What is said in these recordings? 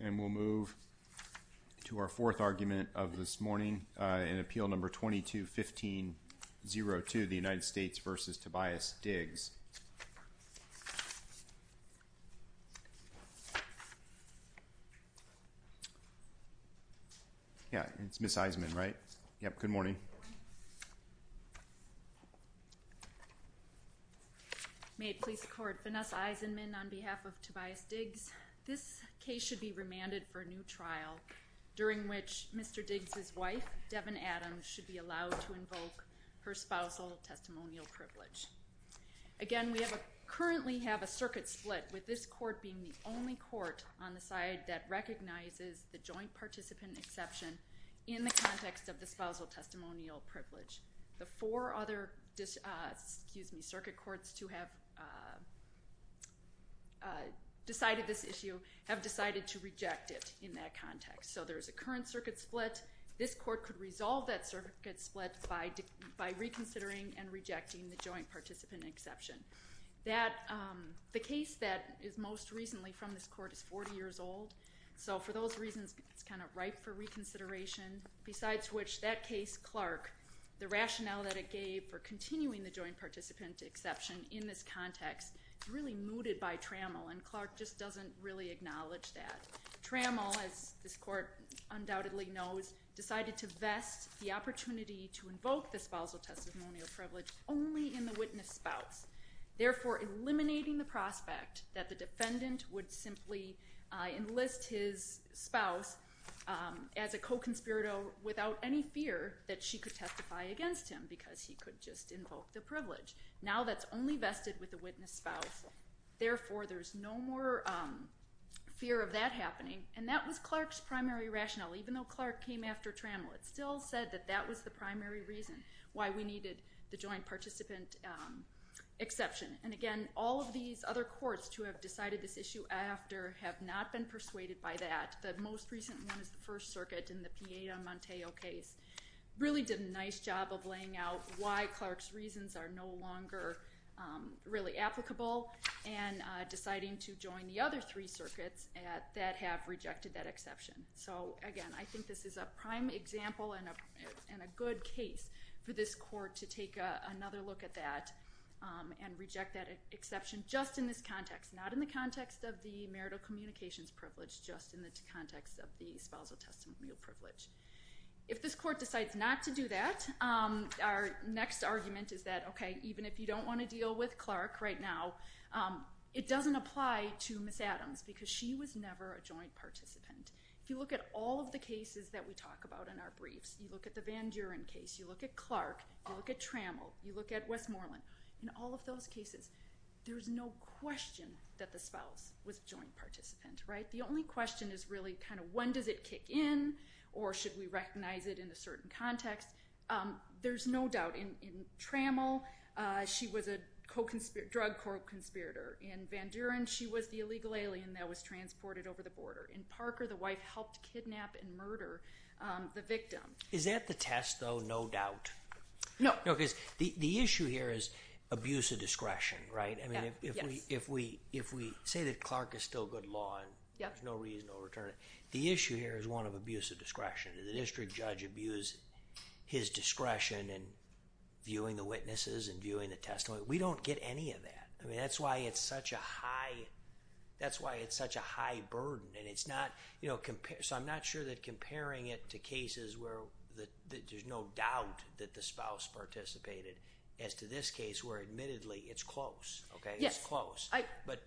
And we'll move to our fourth argument of this morning in Appeal Number 22-1502, the United States v. Tobias Diggs. Yeah, it's Miss Eisenman, right? Yep, good morning. May it please the Court, Vanessa Eisenman on behalf of Tobias Diggs. This case should be remanded for a new trial during which Mr. Diggs' wife, Devon Adams, should be allowed to invoke her spousal testimonial privilege. Again, we currently have a circuit split with this court being the only court on the side that recognizes the joint participant exception in the context of the spousal testimonial privilege. The four other circuit courts to have decided this issue have decided to reject it in that context. So there's a current circuit split. This court could resolve that circuit split by reconsidering and rejecting the joint participant exception. The case that is most recently from this court is 40 years old. So for those reasons, it's kind of ripe for reconsideration. Besides which, that case, Clark, the rationale that it gave for continuing the joint participant exception in this context is really mooted by Trammell, and Clark just doesn't really acknowledge that. Trammell, as this court undoubtedly knows, decided to vest the opportunity to invoke the spousal testimonial privilege only in the witness spouse, therefore eliminating the prospect that the defendant would simply enlist his spouse as a co-conspirator without any fear that she could testify against him because he could just invoke the privilege. Now that's only vested with the witness spouse, therefore there's no more fear of that happening. And that was Clark's primary rationale, even though Clark came after Trammell. It still said that that was the primary reason why we needed the joint participant exception. And again, all of these other courts to have decided this issue after have not been persuaded by that. The most recent one is the First Circuit in the Pieda-Montejo case. Really did a nice job of laying out why Clark's reasons are no longer really applicable and deciding to join the other three circuits that have rejected that exception. So again, I think this is a prime example and a good case for this court to take another look at that and reject that exception just in this context, not in the context of the marital communications privilege, just in the context of the spousal testimonial privilege. If this court decides not to do that, our next argument is that, okay, even if you don't want to deal with Clark right now, it doesn't apply to Ms. Adams because she was never a joint participant. If you look at all of the cases that we talk about in our briefs, you look at the Van Duren case, you look at Clark, you look at Trammell, you look at Westmoreland, in all of those cases, there's no question that the spouse was a joint participant, right? The only question is really kind of when does it kick in or should we recognize it in a certain context? There's no doubt. In Trammell, she was a drug court conspirator. In Van Duren, she was the illegal alien that was transported over the border. In Parker, the wife helped kidnap and murder the victim. Is that the test, though, no doubt? No. No, because the issue here is abuse of discretion, right? I mean, if we say that Clark is still good law and there's no reason to overturn it, the issue here is one of abuse of discretion. The district judge abused his discretion in viewing the witnesses and viewing the testimony. We don't get any of that. I mean, that's why it's such a high burden, and it's not, you know, so I'm not sure that comparing it to cases where there's no doubt that the spouse participated as to this case where admittedly it's close, okay? It's close. But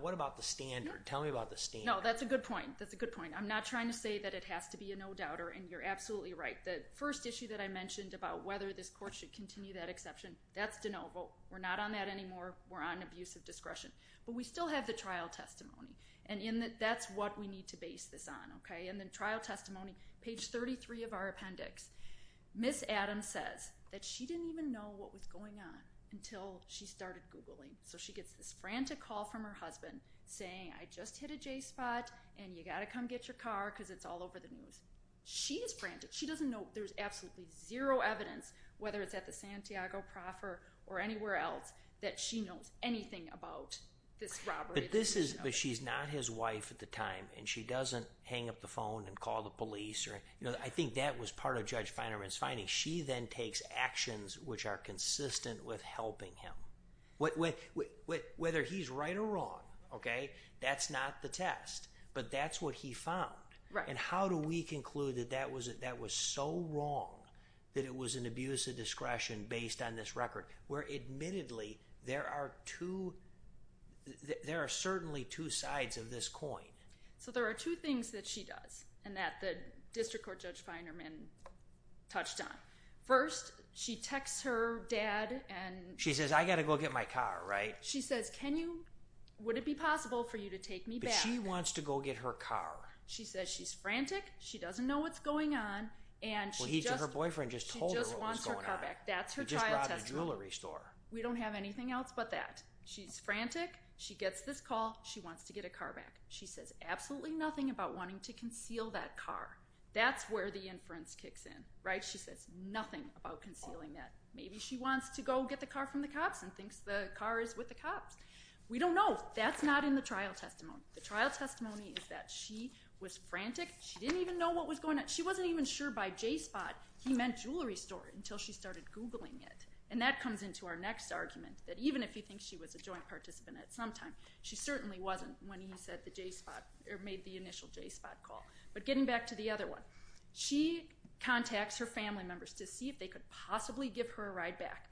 what about the standard? Tell me about the standard. No, that's a good point. That's a good point. I'm not trying to say that it has to be a no-doubter, and you're absolutely right. The first issue that I mentioned about whether this court should continue that exception, that's de novo. We're not on that anymore. We're on abuse of discretion. But we still have the trial testimony, and that's what we need to base this on, okay? And then trial testimony, page 33 of our appendix. Ms. Adams says that she didn't even know what was going on until she started Googling. So she gets this frantic call from her husband saying, I just hit a J spot, and you got to come get your car because it's all over the news. She is frantic. She doesn't know. There's absolutely zero evidence, whether it's at the Santiago Proffer or anywhere else, that she knows anything about this robbery. But she's not his wife at the time, and she doesn't hang up the phone and call the police. I think that was part of Judge Feinerman's finding. She then takes actions which are consistent with helping him. Whether he's right or wrong, okay, that's not the test. But that's what he found. And how do we conclude that that was so wrong that it was an abuse of discretion based on this record, where admittedly there are two, there are certainly two sides of this coin? So there are two things that she does and that the district court Judge Feinerman touched on. First, she texts her dad and She says, I got to go get my car, right? She says, can you, would it be possible for you to take me back? But she wants to go get her car. She says she's frantic, she doesn't know what's going on, and she just Well, her boyfriend just told her what was going on. She just wants her car back. That's her trial testimony. He just robbed a jewelry store. We don't have anything else but that. She's frantic. She gets this call. She wants to get her car back. She says absolutely nothing about wanting to conceal that car. That's where the inference kicks in, right? She says nothing about concealing that. Maybe she wants to go get the car from the cops and thinks the car is with the cops. We don't know. That's not in the trial testimony. The trial testimony is that she was frantic. She didn't even know what was going on. She wasn't even sure by J-Spot he meant jewelry store until she started Googling it. And that comes into our next argument, that even if you think she was a joint participant at some time, she certainly wasn't when he said the J-Spot or made the initial J-Spot call. But getting back to the other one, she contacts her family members to see if they could possibly give her a ride back.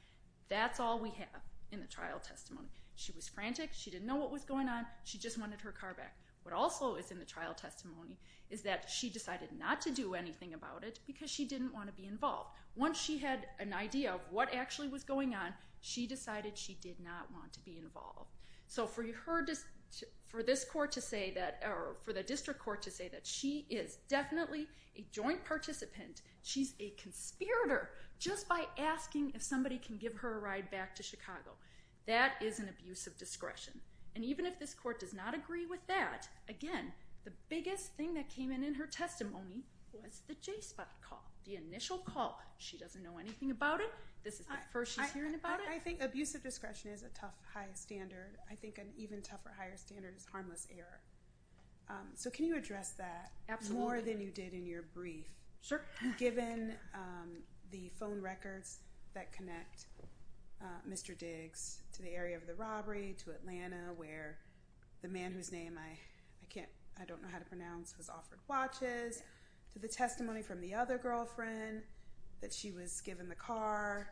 That's all we have in the trial testimony. She was frantic. She didn't know what was going on. She just wanted her car back. What also is in the trial testimony is that she decided not to do anything about it because she didn't want to be involved. Once she had an idea of what actually was going on, she decided she did not want to be involved. So for the district court to say that she is definitely a joint participant, she's a conspirator just by asking if somebody can give her a ride back to Chicago, that is an abuse of discretion. And even if this court does not agree with that, again, the biggest thing that came in in her testimony was the J-Spot call, the initial call. She doesn't know anything about it. This is the first she's hearing about it. I think abuse of discretion is a tough, high standard. I think an even tougher, higher standard is harmless error. So can you address that more than you did in your brief? Sure. You've given the phone records that connect Mr. Diggs to the area of the robbery, to Atlanta, where the man whose name I don't know how to pronounce was offered watches, to the testimony from the other girlfriend that she was given the car.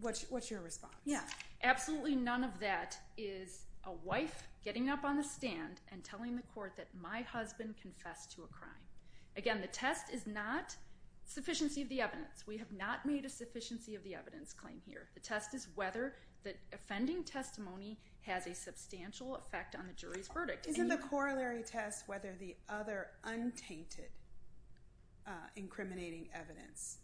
What's your response? Yeah, absolutely none of that is a wife getting up on the stand and telling the court that my husband confessed to a crime. Again, the test is not sufficiency of the evidence. We have not made a sufficiency of the evidence claim here. The test is whether the offending testimony has a substantial effect on the jury's verdict. Isn't the corollary test whether the other untainted, incriminating evidence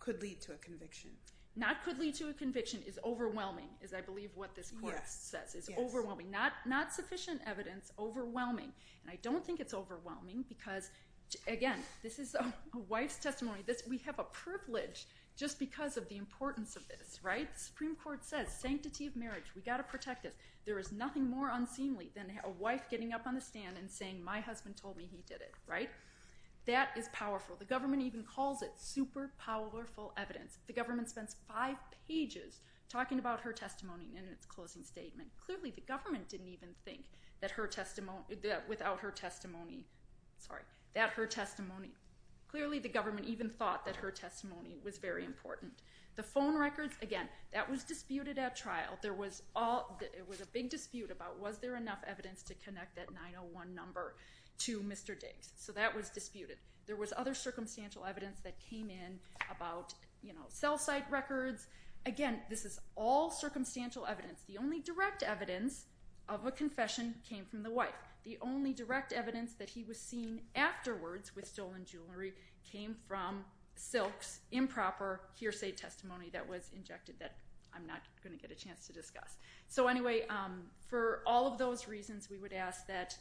could lead to a conviction? Not could lead to a conviction is overwhelming, is I believe what this court says. It's overwhelming. Not sufficient evidence, overwhelming. And I don't think it's overwhelming because, again, this is a wife's testimony. We have a privilege just because of the importance of this, right? The Supreme Court says sanctity of marriage. We've got to protect this. There is nothing more unseemly than a wife getting up on the stand and saying my husband told me he did it, right? That is powerful. The government even calls it super powerful evidence. The government spends five pages talking about her testimony in its closing statement. Clearly the government didn't even think that her testimony, without her testimony, sorry, that her testimony, clearly the government even thought that her testimony was very important. The phone records, again, that was disputed at trial. There was a big dispute about was there enough evidence to connect that 901 number to Mr. Diggs. So that was disputed. There was other circumstantial evidence that came in about cell site records. Again, this is all circumstantial evidence. The only direct evidence of a confession came from the wife. The only direct evidence that he was seen afterwards with stolen jewelry came from Silk's improper hearsay testimony that was injected that I'm not going to get a chance to discuss. So anyway, for all of those reasons, we would ask that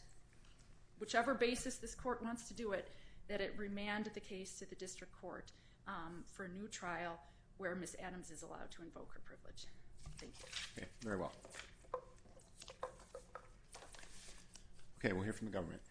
whichever basis this court wants to do it, that it remand the case to the district court for a new trial where Ms. Adams is allowed to invoke her privilege. Thank you. Okay, very well. Okay, we'll hear from the government.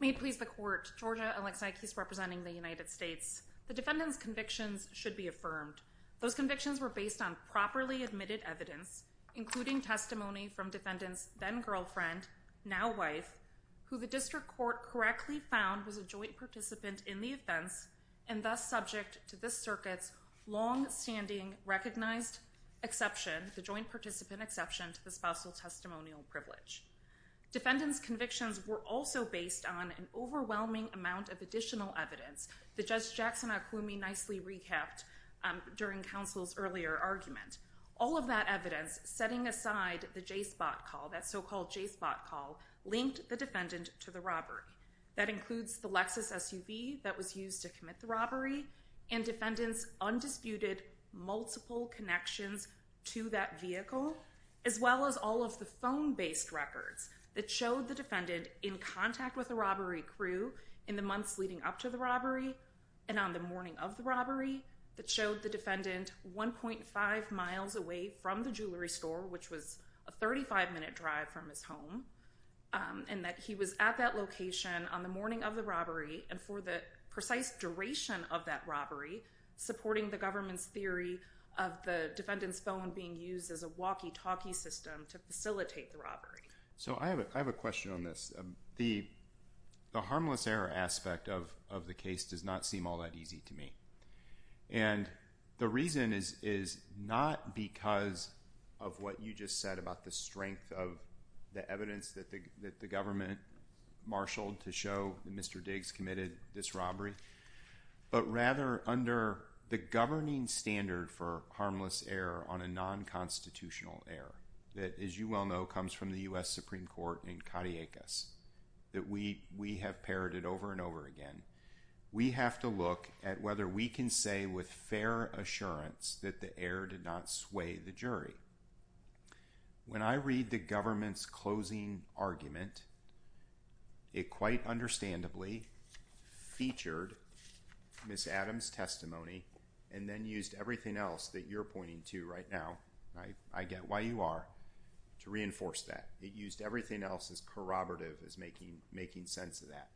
May it please the court, Georgia Alexakis representing the United States. The defendant's convictions should be affirmed. Those convictions were based on properly admitted evidence, including testimony from defendant's then girlfriend, now wife, who the district court correctly found was a joint participant in the offense and thus subject to this circuit's longstanding recognized exception, the joint participant exception to the spousal testimonial privilege. Defendant's convictions were also based on an overwhelming amount of additional evidence. The judge, Jackson Okwumi, nicely recapped during counsel's earlier argument. All of that evidence, setting aside the J-spot call, that so-called J-spot call, linked the defendant to the robbery. That includes the Lexus SUV that was used to commit the robbery, and defendant's undisputed multiple connections to that vehicle, as well as all of the phone-based records that showed the defendant in contact with the robbery crew in the months leading up to the robbery and on the morning of the robbery that showed the defendant 1.5 miles away from the jewelry store, which was a 35-minute drive from his home, and that he was at that location on the morning of the robbery and for the precise duration of that robbery, supporting the government's theory of the defendant's phone being used as a walkie-talkie system to facilitate the robbery. So I have a question on this. The harmless error aspect of the case does not seem all that easy to me, and the reason is not because of what you just said about the strength of the evidence that the government marshaled to show that Mr. Diggs committed this robbery, but rather under the governing standard for harmless error on a non-constitutional error that, as you well know, comes from the U.S. Supreme Court in Cadillacus, that we have parroted over and over again. We have to look at whether we can say with fair assurance that the error did not sway the jury. When I read the government's closing argument, it quite understandably featured Ms. Adams' testimony and then used everything else that you're pointing to right now, and I get why you are, to reinforce that. It used everything else as corroborative as making sense of that.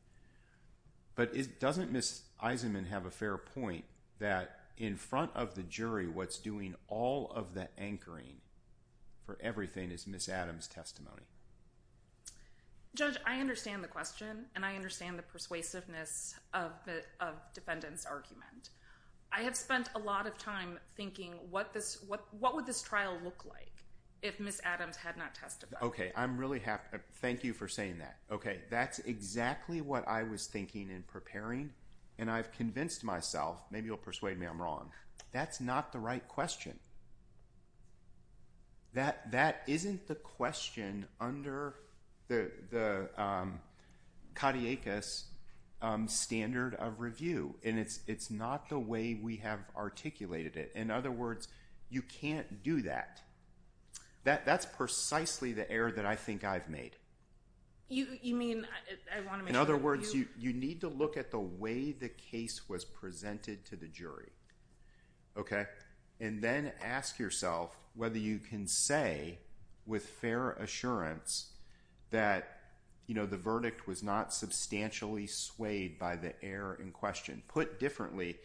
But doesn't Ms. Eisenman have a fair point that in front of the jury, what's doing all of the anchoring for everything is Ms. Adams' testimony? Judge, I understand the question, and I understand the persuasiveness of the defendant's argument. I have spent a lot of time thinking, what would this trial look like if Ms. Adams had not testified? Okay, I'm really happy. Thank you for saying that. Okay, that's exactly what I was thinking in preparing, and I've convinced myself, maybe you'll persuade me I'm wrong, that's not the right question. That isn't the question under the cadiacus standard of review, and it's not the way we have articulated it. In other words, you can't do that. That's precisely the error that I think I've made. In other words, you need to look at the way the case was presented to the jury, okay? And then ask yourself whether you can say with fair assurance that the verdict was not substantially swayed by the error in question. Put differently,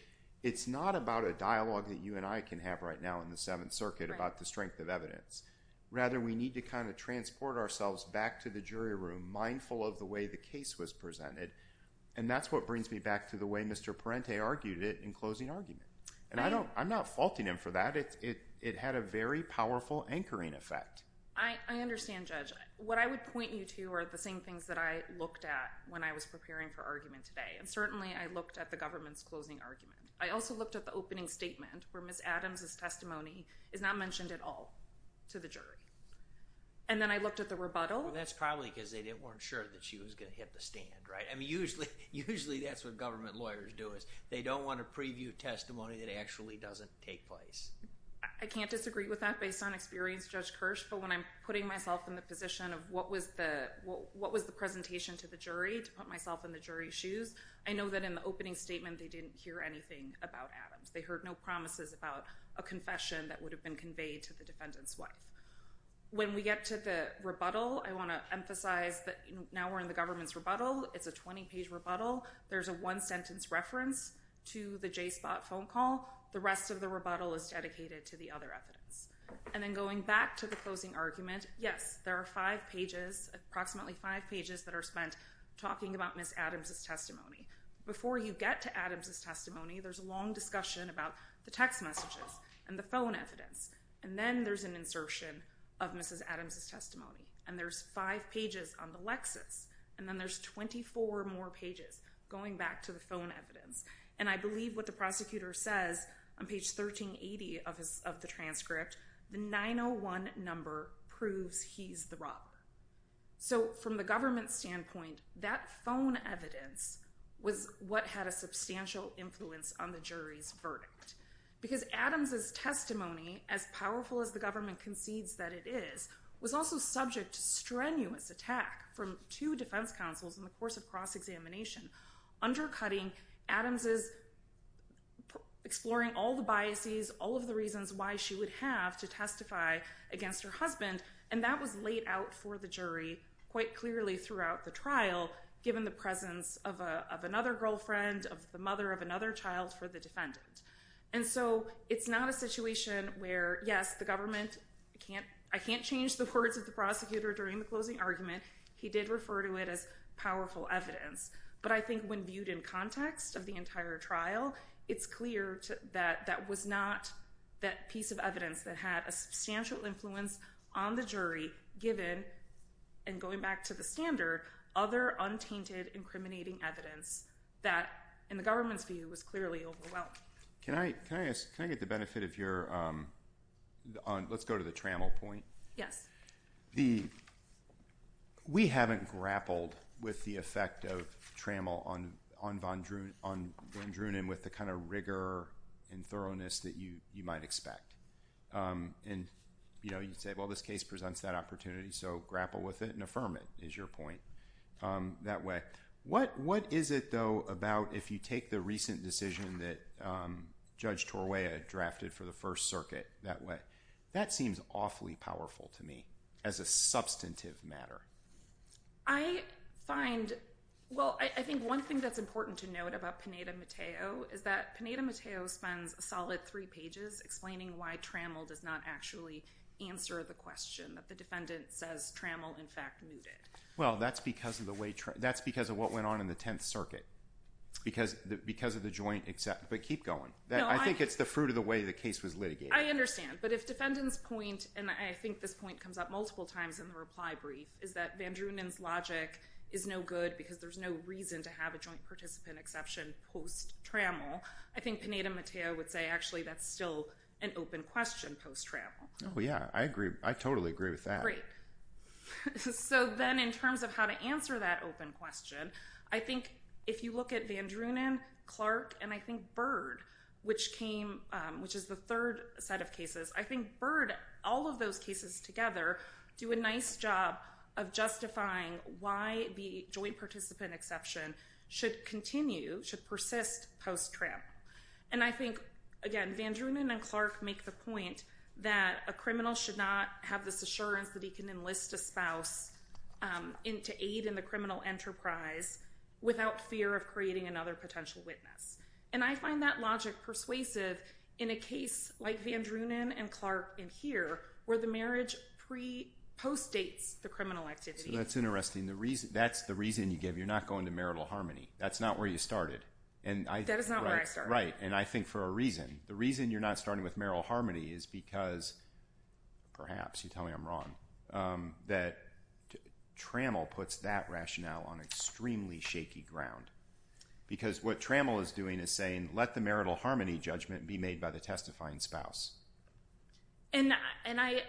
it's not about a dialogue that you and I can have right now in the Seventh Circuit about the strength of evidence. Rather, we need to kind of transport ourselves back to the jury room, mindful of the way the case was presented, and that's what brings me back to the way Mr. Parente argued it in closing argument. And I'm not faulting him for that. It had a very powerful anchoring effect. I understand, Judge. What I would point you to are the same things that I looked at when I was preparing for argument today, and certainly I looked at the government's closing argument. I also looked at the opening statement where Ms. Adams' testimony is not mentioned at all to the jury. And then I looked at the rebuttal. Well, that's probably because they weren't sure that she was going to hit the stand, right? I mean, usually that's what government lawyers do is they don't want to preview testimony that actually doesn't take place. I can't disagree with that based on experience, Judge Kirsch, but when I'm putting myself in the position of what was the presentation to the jury to put myself in the jury's shoes, I know that in the opening statement they didn't hear anything about Adams. They heard no promises about a confession that would have been conveyed to the defendant's wife. When we get to the rebuttal, I want to emphasize that now we're in the government's rebuttal. It's a 20-page rebuttal. There's a one-sentence reference to the J-spot phone call. The rest of the rebuttal is dedicated to the other evidence. And then going back to the closing argument, yes, there are five pages, approximately five pages that are spent talking about Ms. Adams' testimony. Before you get to Adams' testimony, there's a long discussion about the text messages and the phone evidence. And then there's an insertion of Ms. Adams' testimony. And there's five pages on the Lexus. And then there's 24 more pages going back to the phone evidence. And I believe what the prosecutor says on page 1380 of the transcript, the 901 number proves he's the robber. So from the government's standpoint, that phone evidence was what had a substantial influence on the jury's verdict. Because Adams' testimony, as powerful as the government concedes that it is, was also subject to strenuous attack from two defense counsels in the course of cross-examination, undercutting Adams' exploring all the biases, all of the reasons why she would have to testify against her husband. And that was laid out for the jury quite clearly throughout the trial, given the presence of another girlfriend, of the mother of another child for the defendant. And so it's not a situation where, yes, the government, I can't change the words of the prosecutor during the closing argument. He did refer to it as powerful evidence. But I think when viewed in context of the entire trial, it's clear that that was not that piece of evidence that had a substantial influence on the jury, given, and going back to the standard, other untainted, incriminating evidence that, in the government's view, was clearly overwhelmed. Can I get the benefit of your, let's go to the trammel point. Yes. We haven't grappled with the effect of trammel on von Drunen with the kind of rigor and thoroughness that you might expect. And, you know, you say, well, this case presents that opportunity, so grapple with it and affirm it, is your point, that way. What is it, though, about if you take the recent decision that Judge Torway had drafted for the First Circuit that way? I find, well, I think one thing that's important to note about Pineda-Matteo is that Pineda-Matteo spends a solid three pages explaining why trammel does not actually answer the question, that the defendant says trammel, in fact, mooted. Well, that's because of the way, that's because of what went on in the Tenth Circuit, because of the joint, but keep going. I think it's the fruit of the way the case was litigated. I understand, but if defendant's point, and I think this point comes up multiple times in the reply brief, is that von Drunen's logic is no good because there's no reason to have a joint participant exception post-trammel, I think Pineda-Matteo would say, actually, that's still an open question post-trammel. Oh, yeah, I agree. I totally agree with that. Great. So then in terms of how to answer that open question, I think if you look at von Drunen, Clark, and I think Bird, which came, which is the third set of cases, I think Bird, all of those cases together, do a nice job of justifying why the joint participant exception should continue, should persist post-trammel. And I think, again, von Drunen and Clark make the point that a criminal should not have this assurance that he can enlist a spouse to aid in the criminal enterprise without fear of creating another potential witness. And I find that logic persuasive in a case like von Drunen and Clark in here where the marriage pre-post-dates the criminal activity. That's interesting. That's the reason you give. You're not going to marital harmony. That's not where you started. That is not where I started. Right, and I think for a reason. The reason you're not starting with marital harmony is because, perhaps, you tell me I'm wrong, that trammel puts that rationale on extremely shaky ground. Because what trammel is doing is saying, let the marital harmony judgment be made by the testifying spouse. And I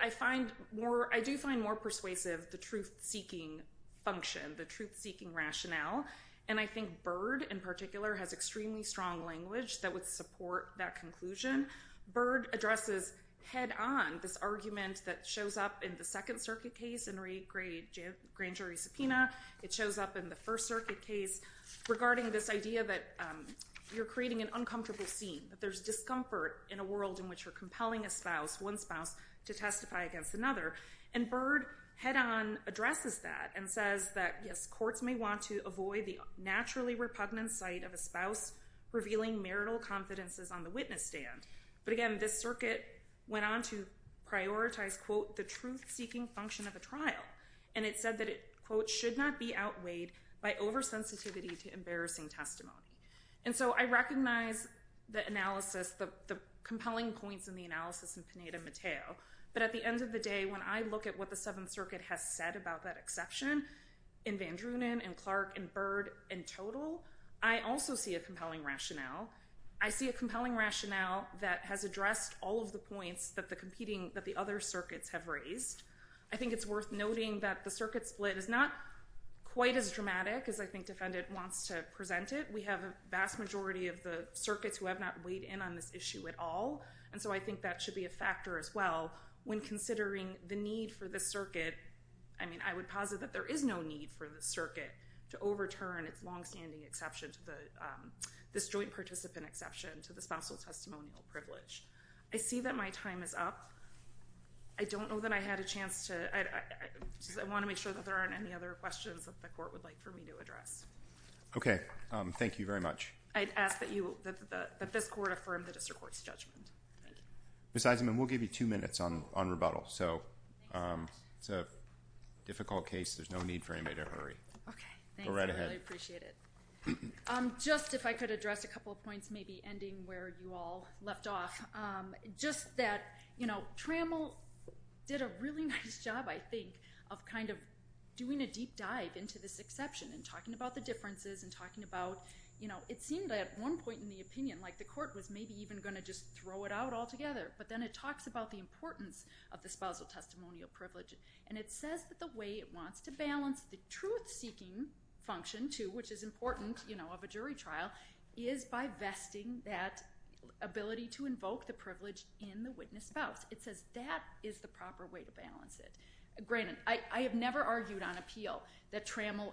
do find more persuasive the truth-seeking function, the truth-seeking rationale. And I think Bird, in particular, has extremely strong language that would support that conclusion. Bird addresses head-on this argument that shows up in the Second Circuit case in re-grand jury subpoena. It shows up in the First Circuit case regarding this idea that you're creating an uncomfortable scene, that there's discomfort in a world in which you're compelling a spouse, one spouse, to testify against another. And Bird head-on addresses that and says that, yes, courts may want to avoid the naturally repugnant sight of a spouse revealing marital confidences on the witness stand. But again, this circuit went on to prioritize, quote, the truth-seeking function of a trial. And it said that it, quote, should not be outweighed by oversensitivity to embarrassing testimony. And so I recognize the analysis, the compelling points in the analysis in Pineda-Matteo. But at the end of the day, when I look at what the Seventh Circuit has said about that exception, in Van Druenen, in Clark, in Bird, in Total, I also see a compelling rationale. I see a compelling rationale that has addressed all of the points that the competing, that the other circuits have raised. I think it's worth noting that the circuit split is not quite as dramatic as I think defendant wants to present it. We have a vast majority of the circuits who have not weighed in on this issue at all. And so I think that should be a factor as well when considering the need for this circuit. I mean, I would posit that there is no need for the circuit to overturn its longstanding exception to the, this joint participant exception to the spousal testimonial privilege. I see that my time is up. I don't know that I had a chance to, I want to make sure that there aren't any other questions that the court would like for me to address. Okay. Thank you very much. I'd ask that you, that this court affirm the district court's judgment. Ms. Eisenman, we'll give you two minutes on rebuttal. So it's a difficult case. There's no need for anybody to hurry. Okay. Thanks. Go right ahead. I really appreciate it. Just if I could address a couple of points, maybe ending where you all left off. Just that, you know, Trammell did a really nice job, I think, of kind of doing a deep dive into this exception and talking about the differences and talking about, you know, it seemed at one point in the opinion like the court was maybe even going to just throw it out altogether. But then it talks about the importance of the spousal testimonial privilege. And it says that the way it wants to balance the truth-seeking function, too, which is important, you know, of a jury trial, is by vesting that ability to invoke the privilege in the witness spouse. It says that is the proper way to balance it. Granted, I have never argued on appeal that Trammell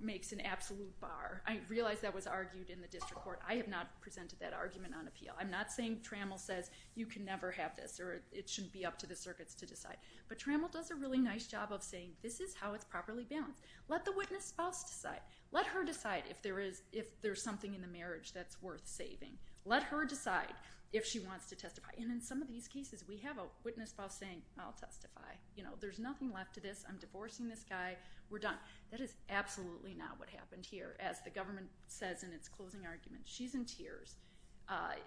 makes an absolute bar. I realize that was argued in the district court. I have not presented that argument on appeal. I'm not saying Trammell says you can never have this or it shouldn't be up to the circuits to decide. But Trammell does a really nice job of saying this is how it's properly balanced. Let the witness spouse decide. Let her decide if there's something in the marriage that's worth saving. Let her decide if she wants to testify. And in some of these cases, we have a witness spouse saying, I'll testify. You know, there's nothing left to this. I'm divorcing this guy. We're done. That is absolutely not what happened here. As the government says in its closing argument, she's in tears.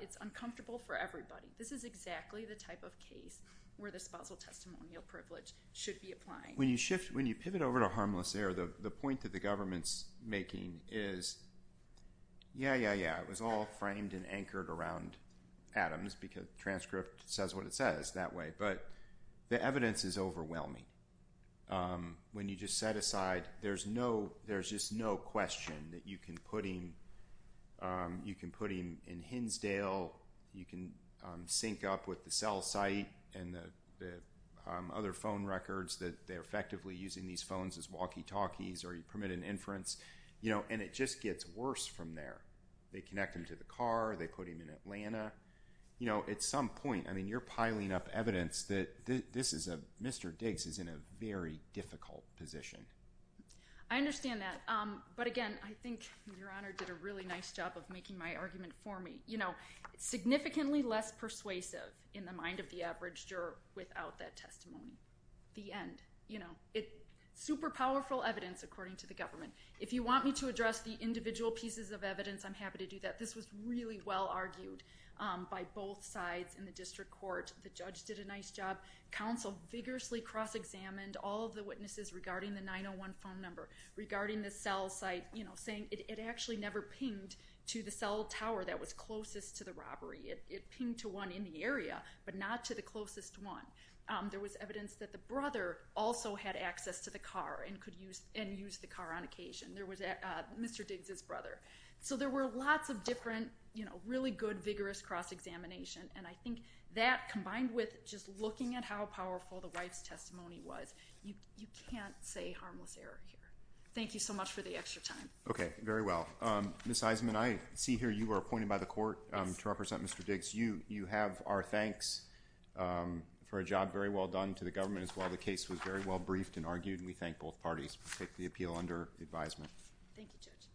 It's uncomfortable for everybody. This is exactly the type of case where the spousal testimonial privilege should be applied. When you pivot over to harmless error, the point that the government's making is, yeah, yeah, yeah, it was all framed and anchored around Adams because the transcript says what it says that way. But the evidence is overwhelming. When you just set aside, there's just no question that you can put him in Hinsdale. You can sync up with the cell site and the other phone records that they're effectively using these phones as walkie-talkies or you permit an inference. And it just gets worse from there. They connect him to the car. They put him in Atlanta. You know, at some point, I mean, you're piling up evidence that this is a Mr. Diggs is in a very difficult position. I understand that. But, again, I think Your Honor did a really nice job of making my argument for me. You know, significantly less persuasive in the mind of the average juror without that testimony. The end. You know, super powerful evidence according to the government. If you want me to address the individual pieces of evidence, I'm happy to do that. This was really well argued by both sides in the district court. The judge did a nice job. Counsel vigorously cross-examined all of the witnesses regarding the 901 phone number, regarding the cell site, you know, saying it actually never pinged to the cell tower that was closest to the robbery. It pinged to one in the area, but not to the closest one. There was evidence that the brother also had access to the car and used the car on occasion. There was Mr. Diggs' brother. So there were lots of different, you know, really good, vigorous cross-examination, and I think that combined with just looking at how powerful the wife's testimony was, you can't say harmless error here. Thank you so much for the extra time. Okay. Very well. Ms. Eisenman, I see here you were appointed by the court to represent Mr. Diggs. You have our thanks for a job very well done to the government as well. The case was very well briefed and argued, and we thank both parties. We take the appeal under advisement. Thank you, Judge.